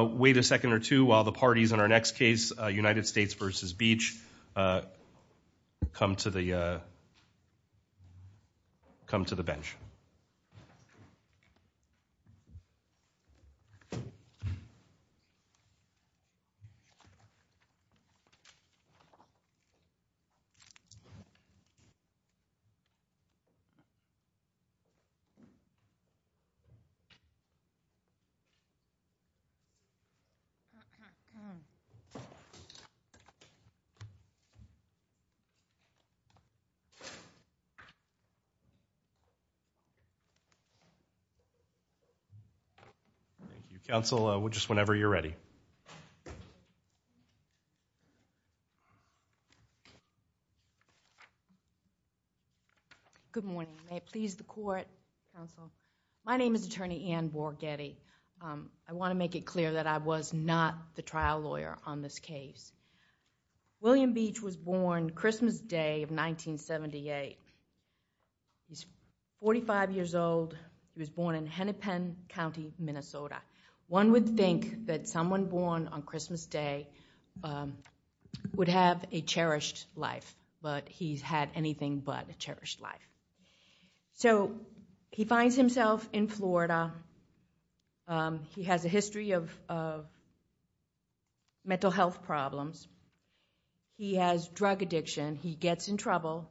Wait a second or two while the parties in our next case, United States v. Beach, come to the bench. Thank you, counsel. Just whenever you're ready. Good morning. May it please the court. Good morning, counsel. My name is attorney Ann Borgetti. I want to make it clear that I was not the trial lawyer on this case. William Beach was born Christmas Day of 1978. He's 45 years old. He was born in Hennepin County, Minnesota. One would think that someone born on Christmas Day would have a cherished life, but he's had anything but a cherished life. So he finds himself in Florida. He has a history of mental health problems. He has drug addiction. He gets in trouble.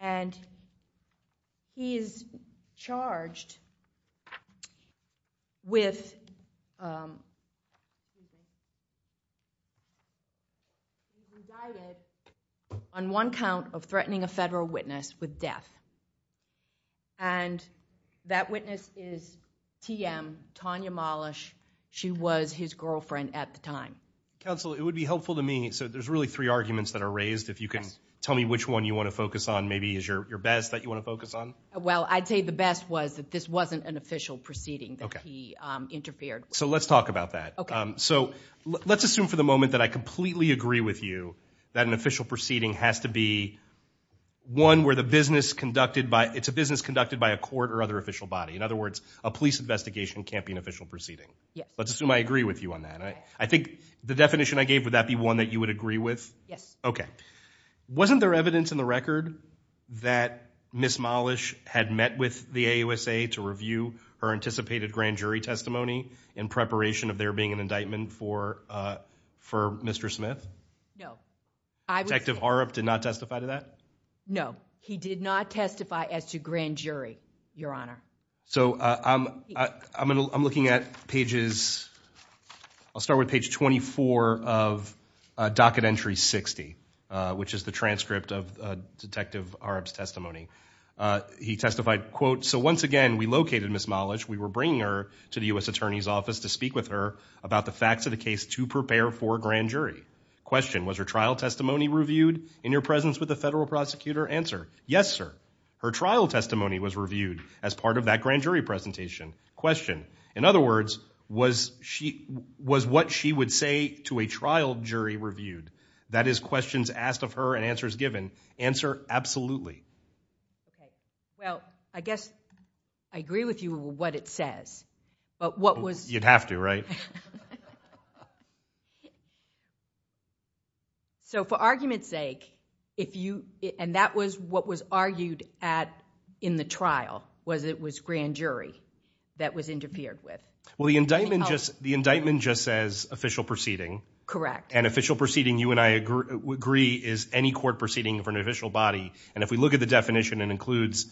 And he is charged with, he was indicted on one count of threatening a federal witness with death. And that witness is TM, Tanya Mollish. She was his girlfriend at the time. Counsel, it would be helpful to me. So there's really three arguments that are raised. If you can tell me which one you want to focus on, maybe is your best that you want to focus on? Well, I'd say the best was that this wasn't an official proceeding that he interfered. So let's talk about that. So let's assume for the moment that I completely agree with you that an official proceeding has to be one where the business conducted by it's a business conducted by a court or other official body. In other words, a police investigation can't be an official proceeding. Let's assume I agree with you on that. I think the definition I gave would that be one that you would agree with? Yes. Okay. Wasn't there evidence in the record that Ms. Mollish had met with the AUSA to review her anticipated grand jury testimony in preparation of there being an indictment for Mr. Smith? No. Detective Harrop did not testify to that? No, he did not testify as to grand jury, Your Honor. So I'm looking at pages – I'll start with page 24 of docket entry 60, which is the transcript of Detective Harrop's testimony. He testified, quote, so once again, we located Ms. Mollish. We were bringing her to the U.S. Attorney's Office to speak with her about the facts of the case to prepare for grand jury. Question, was her trial testimony reviewed in your presence with the federal prosecutor? Answer, yes, sir. Her trial testimony was reviewed as part of that grand jury presentation. Question, in other words, was what she would say to a trial jury reviewed? That is, questions asked of her and answers given. Answer, absolutely. Okay. Well, I guess I agree with you with what it says, but what was – You'd have to, right? So for argument's sake, if you – and that was what was argued at – in the trial, was it was grand jury that was interfered with. Well, the indictment just says official proceeding. Correct. And official proceeding, you and I agree, is any court proceeding of an official body, and if we look at the definition, it includes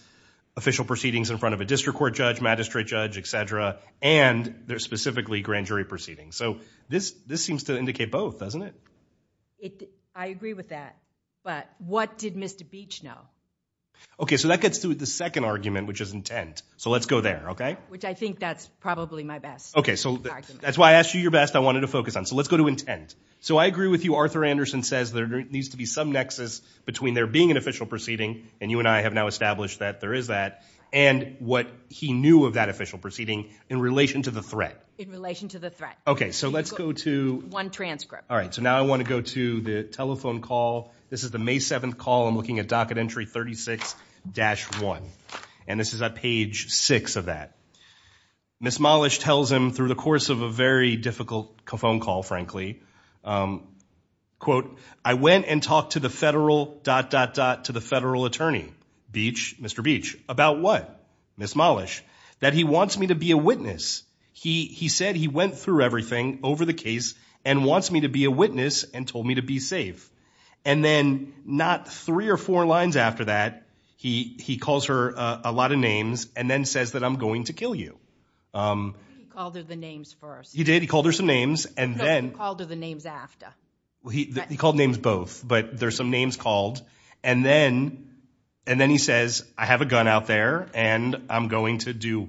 official proceedings in front of a district court judge, magistrate judge, et cetera, and there's specifically grand jury proceedings. So this seems to indicate both, doesn't it? I agree with that, but what did Mr. Beach know? Okay, so that gets to the second argument, which is intent. So let's go there, okay? Which I think that's probably my best argument. Okay, so that's why I asked you your best I wanted to focus on. So let's go to intent. So I agree with you. Arthur Anderson says there needs to be some nexus between there being an official proceeding, and you and I have now established that there is that, and what he knew of that official proceeding in relation to the threat. In relation to the threat. Okay, so let's go to. One transcript. All right, so now I want to go to the telephone call. This is the May 7th call. I'm looking at docket entry 36-1, and this is at page 6 of that. Miss Mollish tells him through the course of a very difficult phone call, frankly, quote, I went and talked to the federal dot, dot, dot, to the federal attorney. Beach, Mr. Beach. About what? Miss Mollish. That he wants me to be a witness. He said he went through everything over the case and wants me to be a witness and told me to be safe. And then not three or four lines after that, he calls her a lot of names and then says that I'm going to kill you. He called her the names first. He did. He called her some names. No, he called her the names after. He called names both, but there's some names called. And then he says, I have a gun out there, and I'm going to do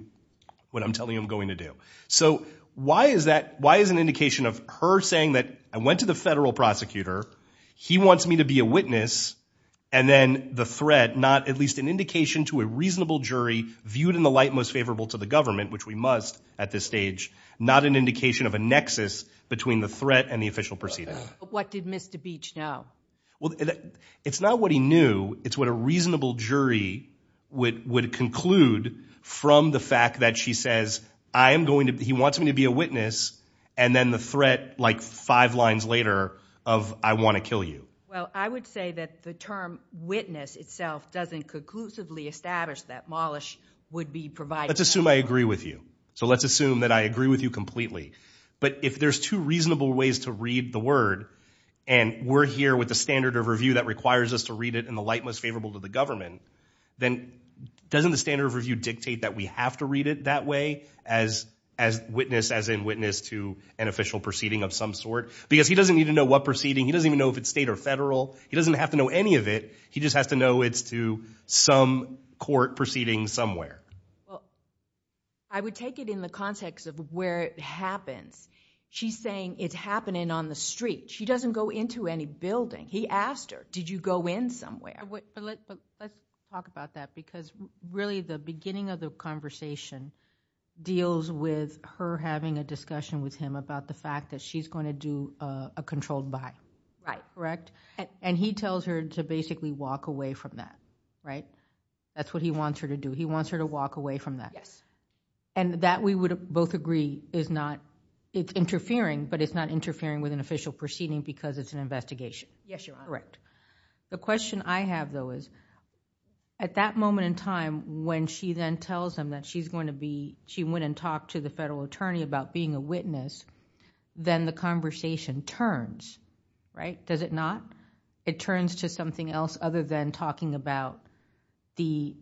what I'm telling him I'm going to do. So why is that? Why is an indication of her saying that I went to the federal prosecutor, he wants me to be a witness, and then the threat not at least an indication to a reasonable jury viewed in the light most favorable to the government, which we must at this stage, not an indication of a nexus between the threat and the official proceeding. What did Mr. Beach know? Well, it's not what he knew. It's what a reasonable jury would conclude from the fact that she says, he wants me to be a witness, and then the threat like five lines later of I want to kill you. Well, I would say that the term witness itself doesn't conclusively establish that Mollish would be providing. Let's assume I agree with you. So let's assume that I agree with you completely. But if there's two reasonable ways to read the word, and we're here with the standard of review that requires us to read it in the light most favorable to the government, then doesn't the standard of review dictate that we have to read it that way, as witness as in witness to an official proceeding of some sort? Because he doesn't need to know what proceeding. He doesn't even know if it's state or federal. He doesn't have to know any of it. He just has to know it's to some court proceeding somewhere. Well, I would take it in the context of where it happens. She's saying it's happening on the street. She doesn't go into any building. He asked her, did you go in somewhere? But let's talk about that because really the beginning of the conversation deals with her having a discussion with him about the fact that she's going to do a controlled buy. Right. Correct? And he tells her to basically walk away from that. Right? That's what he wants her to do. He wants her to walk away from that. Yes. And that we would both agree is not... it's interfering, but it's not interfering with an official proceeding because it's an investigation. Yes, Your Honor. Correct. The question I have though is at that moment in time when she then tells him that she went and talked to the federal attorney about being a witness, then the conversation turns. Right? Does it not? It turns to something else other than talking about the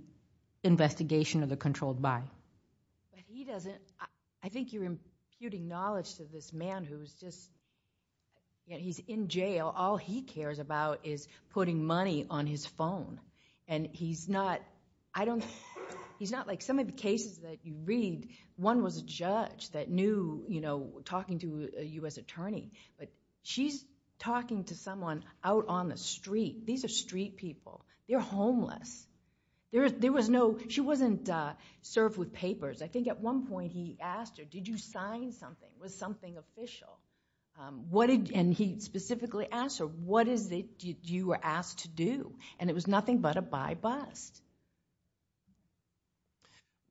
investigation of the controlled buy. But he doesn't... I think you're imputing knowledge to this man who's just... he's in jail. All he cares about is putting money on his phone, and he's not... I don't... he's not like some of the cases that you read. One was a judge that knew, you know, talking to a U.S. attorney, but she's talking to someone out on the street. These are street people. They're homeless. There was no... she wasn't served with papers. I think at one point he asked her, did you sign something? Was something official? And he specifically asked her, what is it you were asked to do? And it was nothing but a buy bust.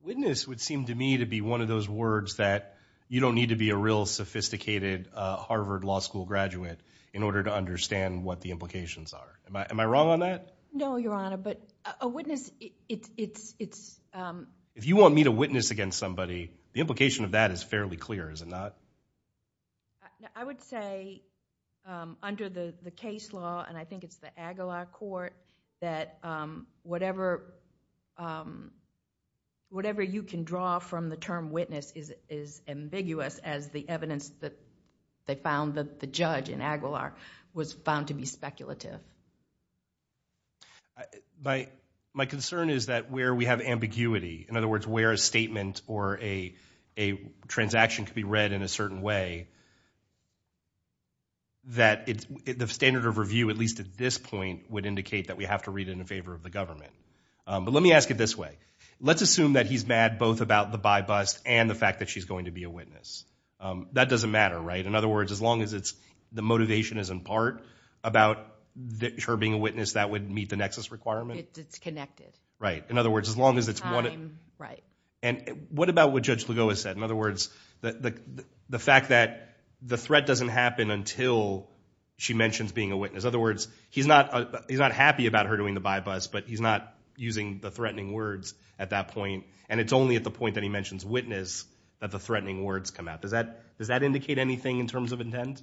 Witness would seem to me to be one of those words that you don't need to be a real sophisticated Harvard Law School graduate in order to understand what the implications are. Am I wrong on that? No, Your Honor, but a witness... it's... If you want me to witness against somebody, the implication of that is fairly clear, is it not? I would say under the case law, and I think it's the Agala Court, that whatever... they found that the judge in Aguilar was found to be speculative. My concern is that where we have ambiguity, in other words where a statement or a transaction could be read in a certain way, that the standard of review, at least at this point, would indicate that we have to read it in favor of the government. But let me ask it this way. Let's assume that he's mad both about the buy bust and the fact that she's going to be a witness. That doesn't matter, right? In other words, as long as the motivation is in part about her being a witness, that would meet the nexus requirement? It's connected. Right. In other words, as long as it's one... Time, right. And what about what Judge Legoa said? In other words, the fact that the threat doesn't happen until she mentions being a witness. In other words, he's not happy about her doing the buy bust, but he's not using the threatening words at that point, and it's only at the point that he mentions witness that the threatening words come out. Does that indicate anything in terms of intent?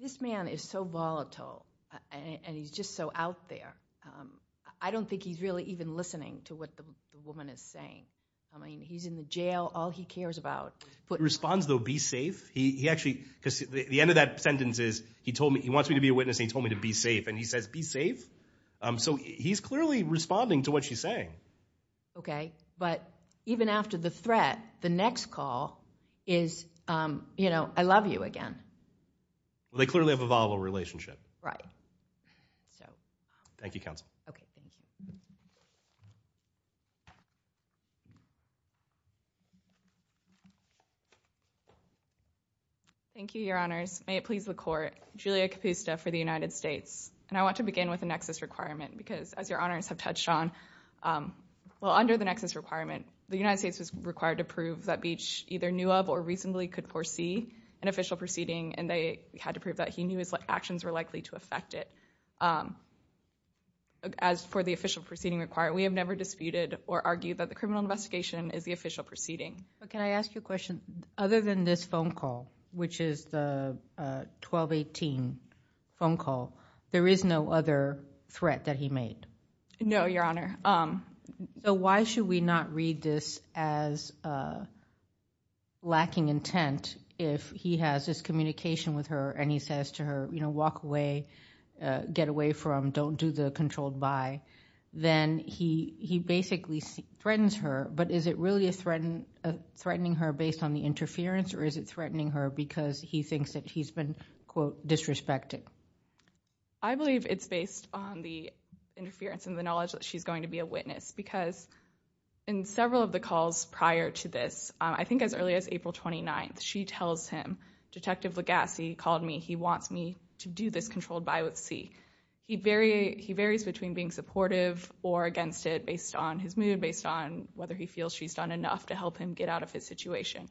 This man is so volatile, and he's just so out there. I don't think he's really even listening to what the woman is saying. I mean, he's in the jail, all he cares about... He responds, though, be safe. The end of that sentence is he wants me to be a witness, and he told me to be safe. And he says, be safe? So he's clearly responding to what she's saying. Okay, but even after the threat, the next call is, you know, I love you again. Well, they clearly have a volatile relationship. Right. So... Thank you, Counsel. Okay, thank you. Thank you, Your Honors. May it please the Court. Julia Capusta for the United States. And I want to begin with the nexus requirement because, as Your Honors have touched on, well, under the nexus requirement, the United States was required to prove that Beach either knew of or reasonably could foresee an official proceeding, and they had to prove that he knew his actions were likely to affect it. As for the official proceeding required, we have never disputed or argued that the criminal investigation is the official proceeding. But can I ask you a question? Other than this phone call, which is the 12-18 phone call, there is no other threat that he made? No, Your Honor. So why should we not read this as lacking intent if he has this communication with her, and he says to her, you know, walk away, get away from, don't do the controlled by, then he basically threatens her, but is it really threatening her based on the interference or is it threatening her because he thinks that he's been, quote, disrespected? I believe it's based on the interference and the knowledge that she's going to be a witness because in several of the calls prior to this, I think as early as April 29th, she tells him, Detective Legassi called me. He wants me to do this controlled by with C. He varies between being supportive or against it based on his mood, based on whether he feels she's done enough to help him get out of his situation.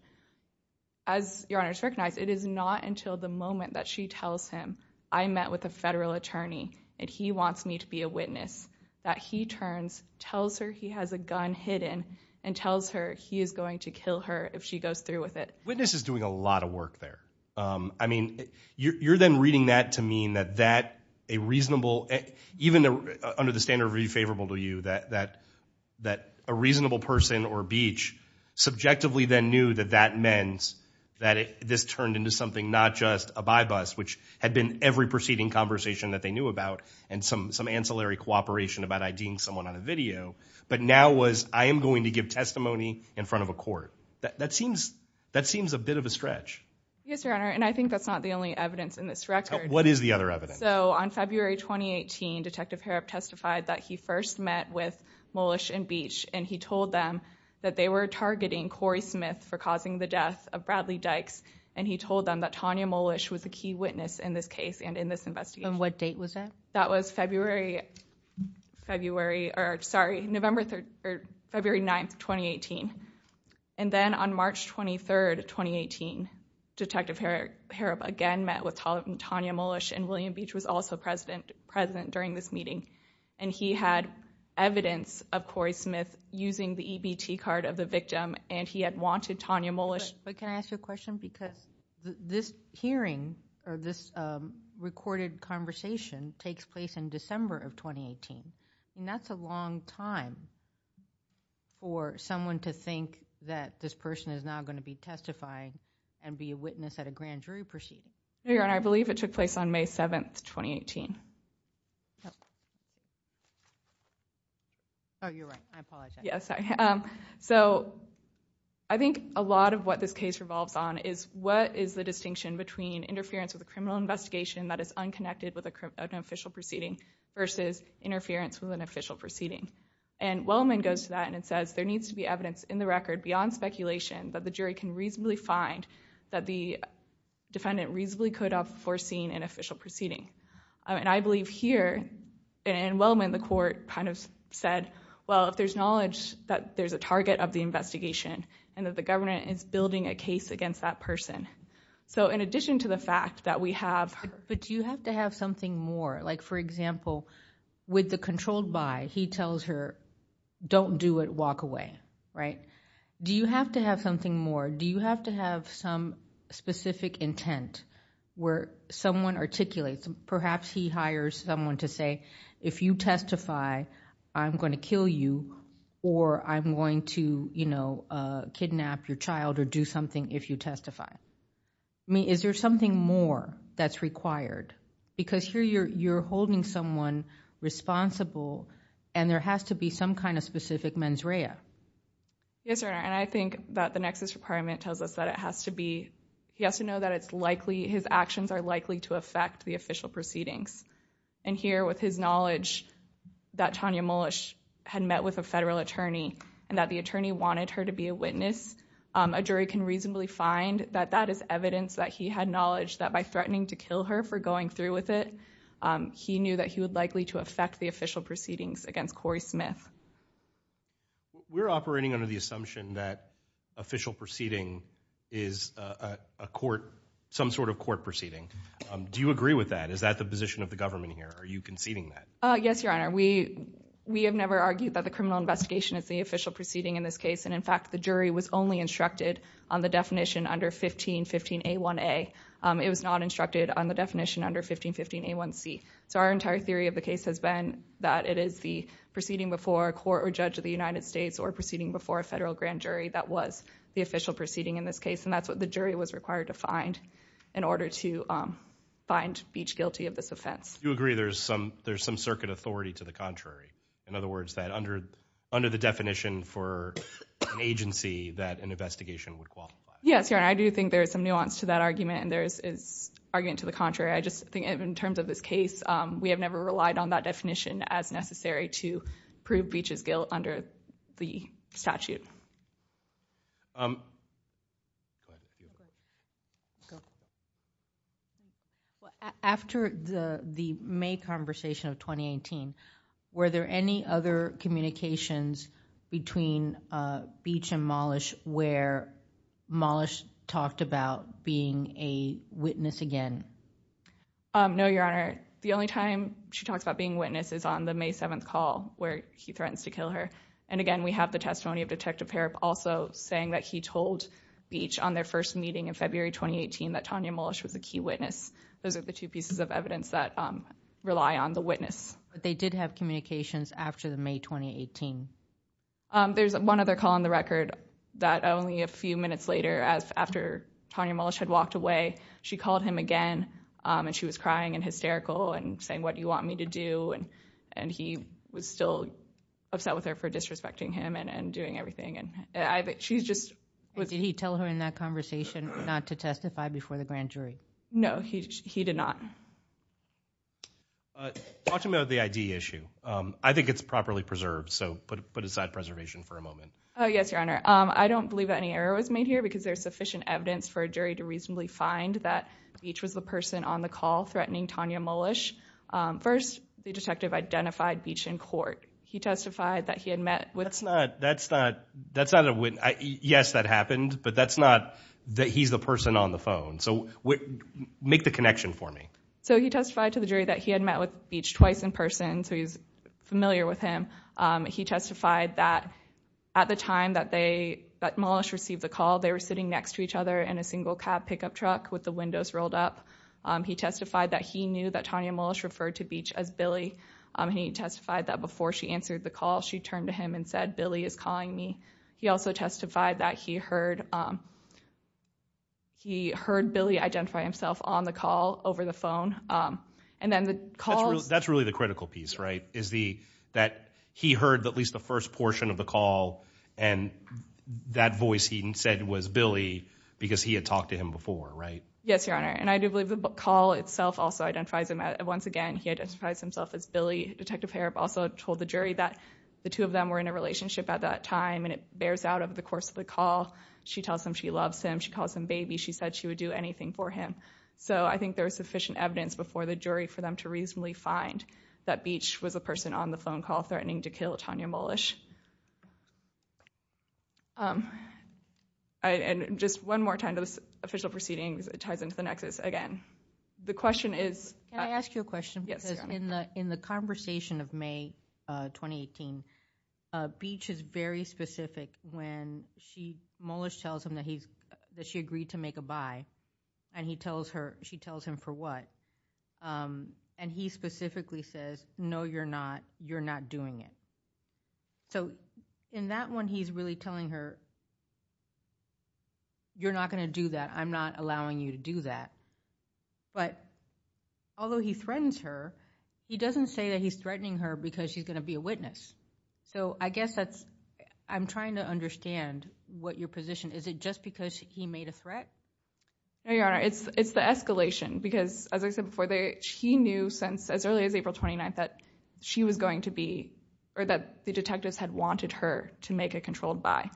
As Your Honor has recognized, it is not until the moment that she tells him, I met with a federal attorney and he wants me to be a witness, that he turns, tells her he has a gun hidden, and tells her he is going to kill her if she goes through with it. Witness is doing a lot of work there. I mean, you're then reading that to mean that that a reasonable, even under the standard of being favorable to you, that a reasonable person or beach subjectively then knew that that meant that this turned into something not just a by-bust, which had been every proceeding conversation that they knew about and some ancillary cooperation about IDing someone on a video, but now was I am going to give testimony in front of a court. That seems a bit of a stretch. Yes, Your Honor, and I think that's not the only evidence in this record. What is the other evidence? So on February 2018, Detective Harrop testified that he first met with Mowlish and Beach and he told them that they were targeting Corey Smith for causing the death of Bradley Dykes and he told them that Tanya Mowlish was a key witness in this case and in this investigation. And what date was that? That was February 9, 2018. And then on March 23, 2018, Detective Harrop again met with Tanya Mowlish and William Beach was also present during this meeting. And he had evidence of Corey Smith using the EBT card of the victim and he had wanted Tanya Mowlish. But can I ask you a question? Because this hearing or this recorded conversation takes place in December of 2018. That's a long time for someone to think that this person is now going to be testifying and be a witness at a grand jury proceeding. Your Honor, I believe it took place on May 7, 2018. Oh, you're right. I apologize. So I think a lot of what this case revolves on is what is the distinction between interference with a criminal investigation that is unconnected with an official proceeding versus interference with an official proceeding. And Wellman goes to that and it says there needs to be evidence in the record beyond speculation that the jury can reasonably find that the defendant reasonably could have foreseen an official proceeding. And I believe here in Wellman the court kind of said, well, if there's knowledge that there's a target of the investigation and that the government is building a case against that person. So in addition to the fact that we have... But do you have to have something more? Like, for example, with the controlled by, he tells her, don't do it, walk away. Right? Do you have to have something more? Do you have to have some specific intent where someone articulates? Perhaps he hires someone to say, if you testify, I'm going to kill you or I'm going to kidnap your child or do something if you testify. I mean, is there something more that's required? Because here you're holding someone responsible and there has to be some kind of specific mens rea. Yes, Your Honor. And I think that the nexus requirement tells us that it has to be... his actions are likely to affect the official proceedings. And here with his knowledge that Tanya Mullish had met with a federal attorney and that the attorney wanted her to be a witness, a jury can reasonably find that that is evidence that he had knowledge that by threatening to kill her for going through with it, he knew that he would likely to affect the official proceedings against Corey Smith. We're operating under the assumption that official proceeding is a court, some sort of court proceeding. Do you agree with that? Is that the position of the government here? Are you conceding that? Yes, Your Honor. We have never argued that the criminal investigation is the official proceeding in this case. And, in fact, the jury was only instructed on the definition under 1515A1A. It was not instructed on the definition under 1515A1C. So our entire theory of the case has been that it is the proceeding before a court or judge of the United States or proceeding before a federal grand jury that was the official proceeding in this case. And that's what the jury was required to find in order to find Beach guilty of this offense. Do you agree there's some circuit authority to the contrary? In other words, that under the definition for an agency that an investigation would qualify? Yes, Your Honor. I do think there is some nuance to that argument and there is argument to the contrary. I just think in terms of this case, we have never relied on that definition as necessary to prove Beach's guilt under the statute. Thank you. After the May conversation of 2018, were there any other communications between Beach and Mollish where Mollish talked about being a witness again? No, Your Honor. The only time she talks about being a witness is on the May 7th call where he threatens to kill her. And again, we have the testimony of Detective Harrop also saying that he told Beach on their first meeting in February 2018 that Tanya Mollish was a key witness. Those are the two pieces of evidence that rely on the witness. But they did have communications after the May 2018? There's one other call on the record that only a few minutes later, after Tanya Mollish had walked away, she called him again. And she was crying and hysterical and saying, what do you want me to do? And he was still upset with her for disrespecting him and doing everything. Did he tell her in that conversation not to testify before the grand jury? No, he did not. Talk to me about the ID issue. I think it's properly preserved, so put aside preservation for a moment. Yes, Your Honor. I don't believe any error was made here because there's sufficient evidence for a jury to reasonably find that Beach was the person on the call threatening Tanya Mollish. First, the detective identified Beach in court. He testified that he had met with... That's not a witness. Yes, that happened, but that's not that he's the person on the phone. So make the connection for me. So he testified to the jury that he had met with Beach twice in person, so he's familiar with him. He testified that at the time that Mollish received the call, they were sitting next to each other in a single cab pickup truck with the windows rolled up. He testified that he knew that Tanya Mollish referred to Beach as Billy. He testified that before she answered the call, she turned to him and said, Billy is calling me. He also testified that he heard Billy identify himself on the call over the phone. That's really the critical piece, right, is that he heard at least the first portion of the call and that voice he said was Billy because he had talked to him before, right? Yes, Your Honor, and I do believe the call itself also identifies him. Once again, he identifies himself as Billy. Detective Harrop also told the jury that the two of them were in a relationship at that time, and it bears out over the course of the call. She tells him she loves him. She calls him baby. She said she would do anything for him. So I think there was sufficient evidence before the jury for them to reasonably find that Beach was a person on the phone call threatening to kill Tanya Mollish. And just one more time, this official proceeding ties into the nexus again. The question is? Can I ask you a question? Yes, Your Honor. Because in the conversation of May 2018, Beach is very specific when she, Mollish tells him that she agreed to make a buy, and he tells her, she tells him for what, and he specifically says, no, you're not, you're not doing it. So in that one, he's really telling her, you're not going to do that, I'm not allowing you to do that. But although he threatens her, he doesn't say that he's threatening her because she's going to be a witness. So I guess that's, I'm trying to understand what your position, is it just because he made a threat? No, Your Honor, it's the escalation, because as I said before, he knew since as early as April 29th that she was going to be, or that the detectives had wanted her to make a controlled buy.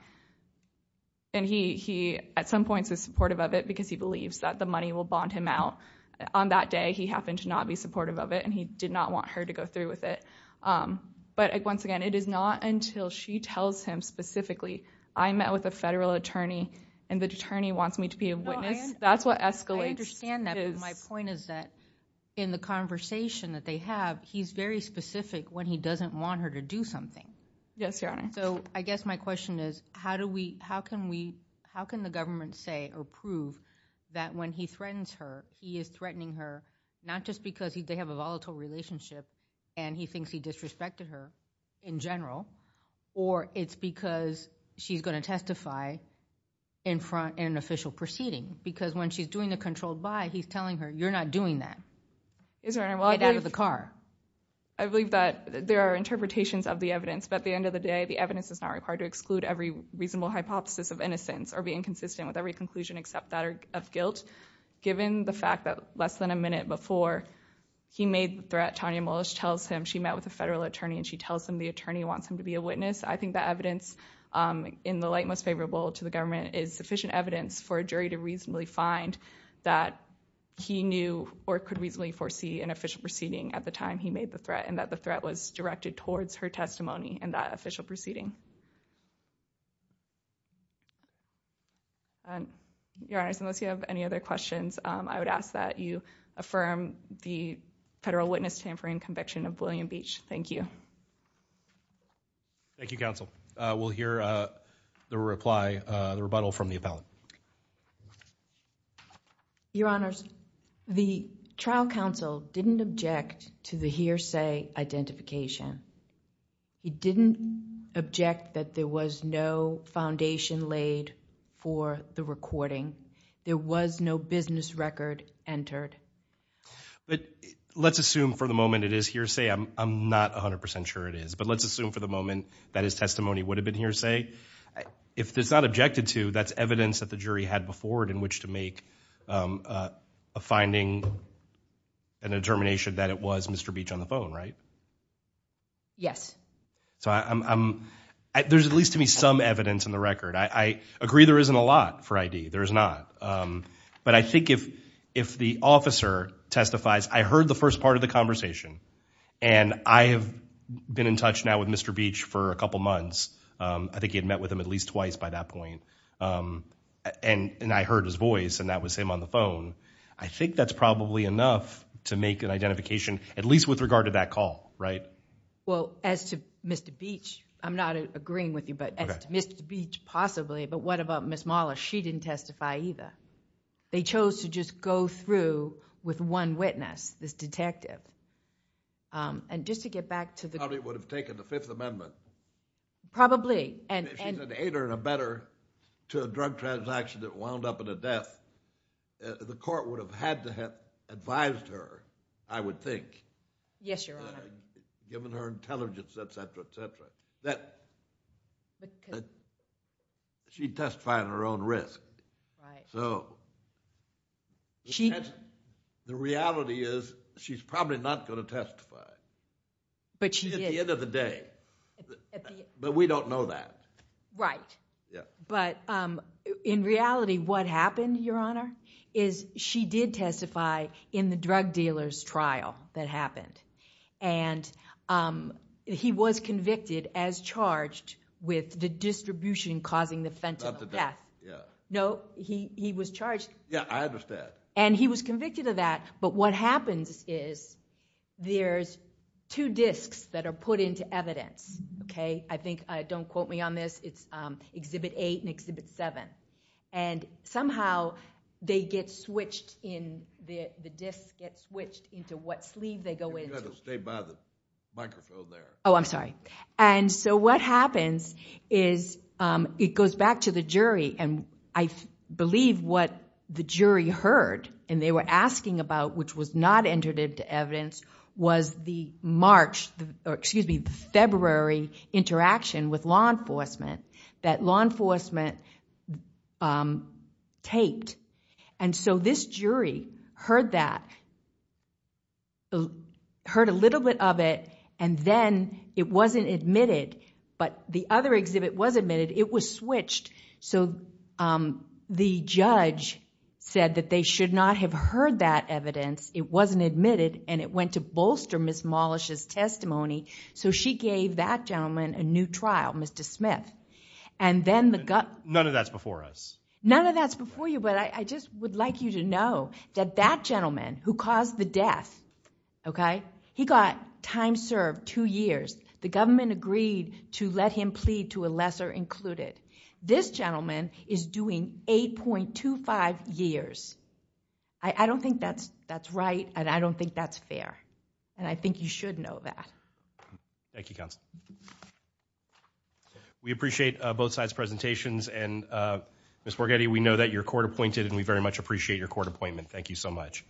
And he at some points is supportive of it because he believes that the money will bond him out. On that day, he happened to not be supportive of it, and he did not want her to go through with it. But once again, it is not until she tells him specifically, I met with a federal attorney and the attorney wants me to be a witness, that's what escalates. I understand that, but my point is that in the conversation that they have, he's very specific when he doesn't want her to do something. Yes, Your Honor. So I guess my question is, how do we, how can we, how can the government say or prove that when he threatens her, he is threatening her not just because they have a volatile relationship and he thinks he disrespected her in general, or it's because she's going to testify in an official proceeding. Because when she's doing the controlled buy, he's telling her, you're not doing that. Yes, Your Honor. Get out of the car. I believe that there are interpretations of the evidence, but at the end of the day, the evidence is not required to exclude every reasonable hypothesis of innocence or be inconsistent with every conclusion except that of guilt. Given the fact that less than a minute before he made the threat, Tanya Mullis tells him she met with a federal attorney and she tells him the attorney wants him to be a witness. I think the evidence in the light most favorable to the government is sufficient evidence for a jury to reasonably find that he knew or could reasonably foresee an official proceeding at the time he made the threat and that the threat was directed towards her testimony in that official proceeding. Your Honor, unless you have any other questions, I would ask that you affirm the federal witness tampering conviction of William Beach. Thank you. Thank you, counsel. We'll hear the reply, the rebuttal from the appellant. Your Honors, the trial counsel didn't object to the hearsay identification. He didn't object that there was no foundation laid for the recording. There was no business record entered. Let's assume for the moment it is hearsay. I'm not 100% sure it is, but let's assume for the moment that his testimony would have been hearsay. If it's not objected to, that's evidence that the jury had before it in which to make a finding and a determination that it was Mr. Beach on the phone, right? Yes. There's at least to me some evidence in the record. I agree there isn't a lot for ID. There is not. But I think if the officer testifies, I heard the first part of the conversation and I have been in touch now with Mr. Beach for a couple months. I think he had met with him at least twice by that point, and I heard his voice and that was him on the phone. I think that's probably enough to make an identification, at least with regard to that call, right? Well, as to Mr. Beach, I'm not agreeing with you, but as to Mr. Beach possibly, but what about Ms. Mahler? She didn't testify either. They chose to just go through with one witness, this detective. And just to get back to the- Probably would have taken the Fifth Amendment. Probably. If she's an aider and abetter to a drug transaction that wound up in a death, the court would have had to have advised her, I would think. Yes, Your Honor. Given her intelligence, et cetera, et cetera. That she testified at her own risk. Right. So the reality is she's probably not going to testify. But she did. At the end of the day. But we don't know that. Right. Yeah. But in reality what happened, Your Honor, is she did testify in the drug dealer's trial that happened. And he was convicted as charged with the distribution causing the fatal death. Not the death, yeah. No, he was charged. Yeah, I understand. And he was convicted of that. But what happens is there's two disks that are put into evidence. Okay? I think, don't quote me on this, it's Exhibit 8 and Exhibit 7. And somehow they get switched in, the disks get switched into what sleeve they go into. You had to stay by the microphone there. Oh, I'm sorry. And so what happens is it goes back to the jury. And I believe what the jury heard and they were asking about, which was not entered into evidence, was the February interaction with law enforcement. That law enforcement taped. And so this jury heard that, heard a little bit of it, and then it wasn't admitted. But the other exhibit was admitted. It was switched. So the judge said that they should not have heard that evidence. It wasn't admitted. And it went to bolster Ms. Mollish's testimony. So she gave that gentleman a new trial, Mr. Smith. And then the gut. None of that's before us. None of that's before you, but I just would like you to know that that gentleman who caused the death, okay, he got time served, two years. The government agreed to let him plead to a lesser included. This gentleman is doing 8.25 years. I don't think that's right and I don't think that's fair. And I think you should know that. Thank you, Counsel. We appreciate both sides' presentations. And Ms. Borghetti, we know that you're court appointed and we very much appreciate your court appointment. Thank you so much.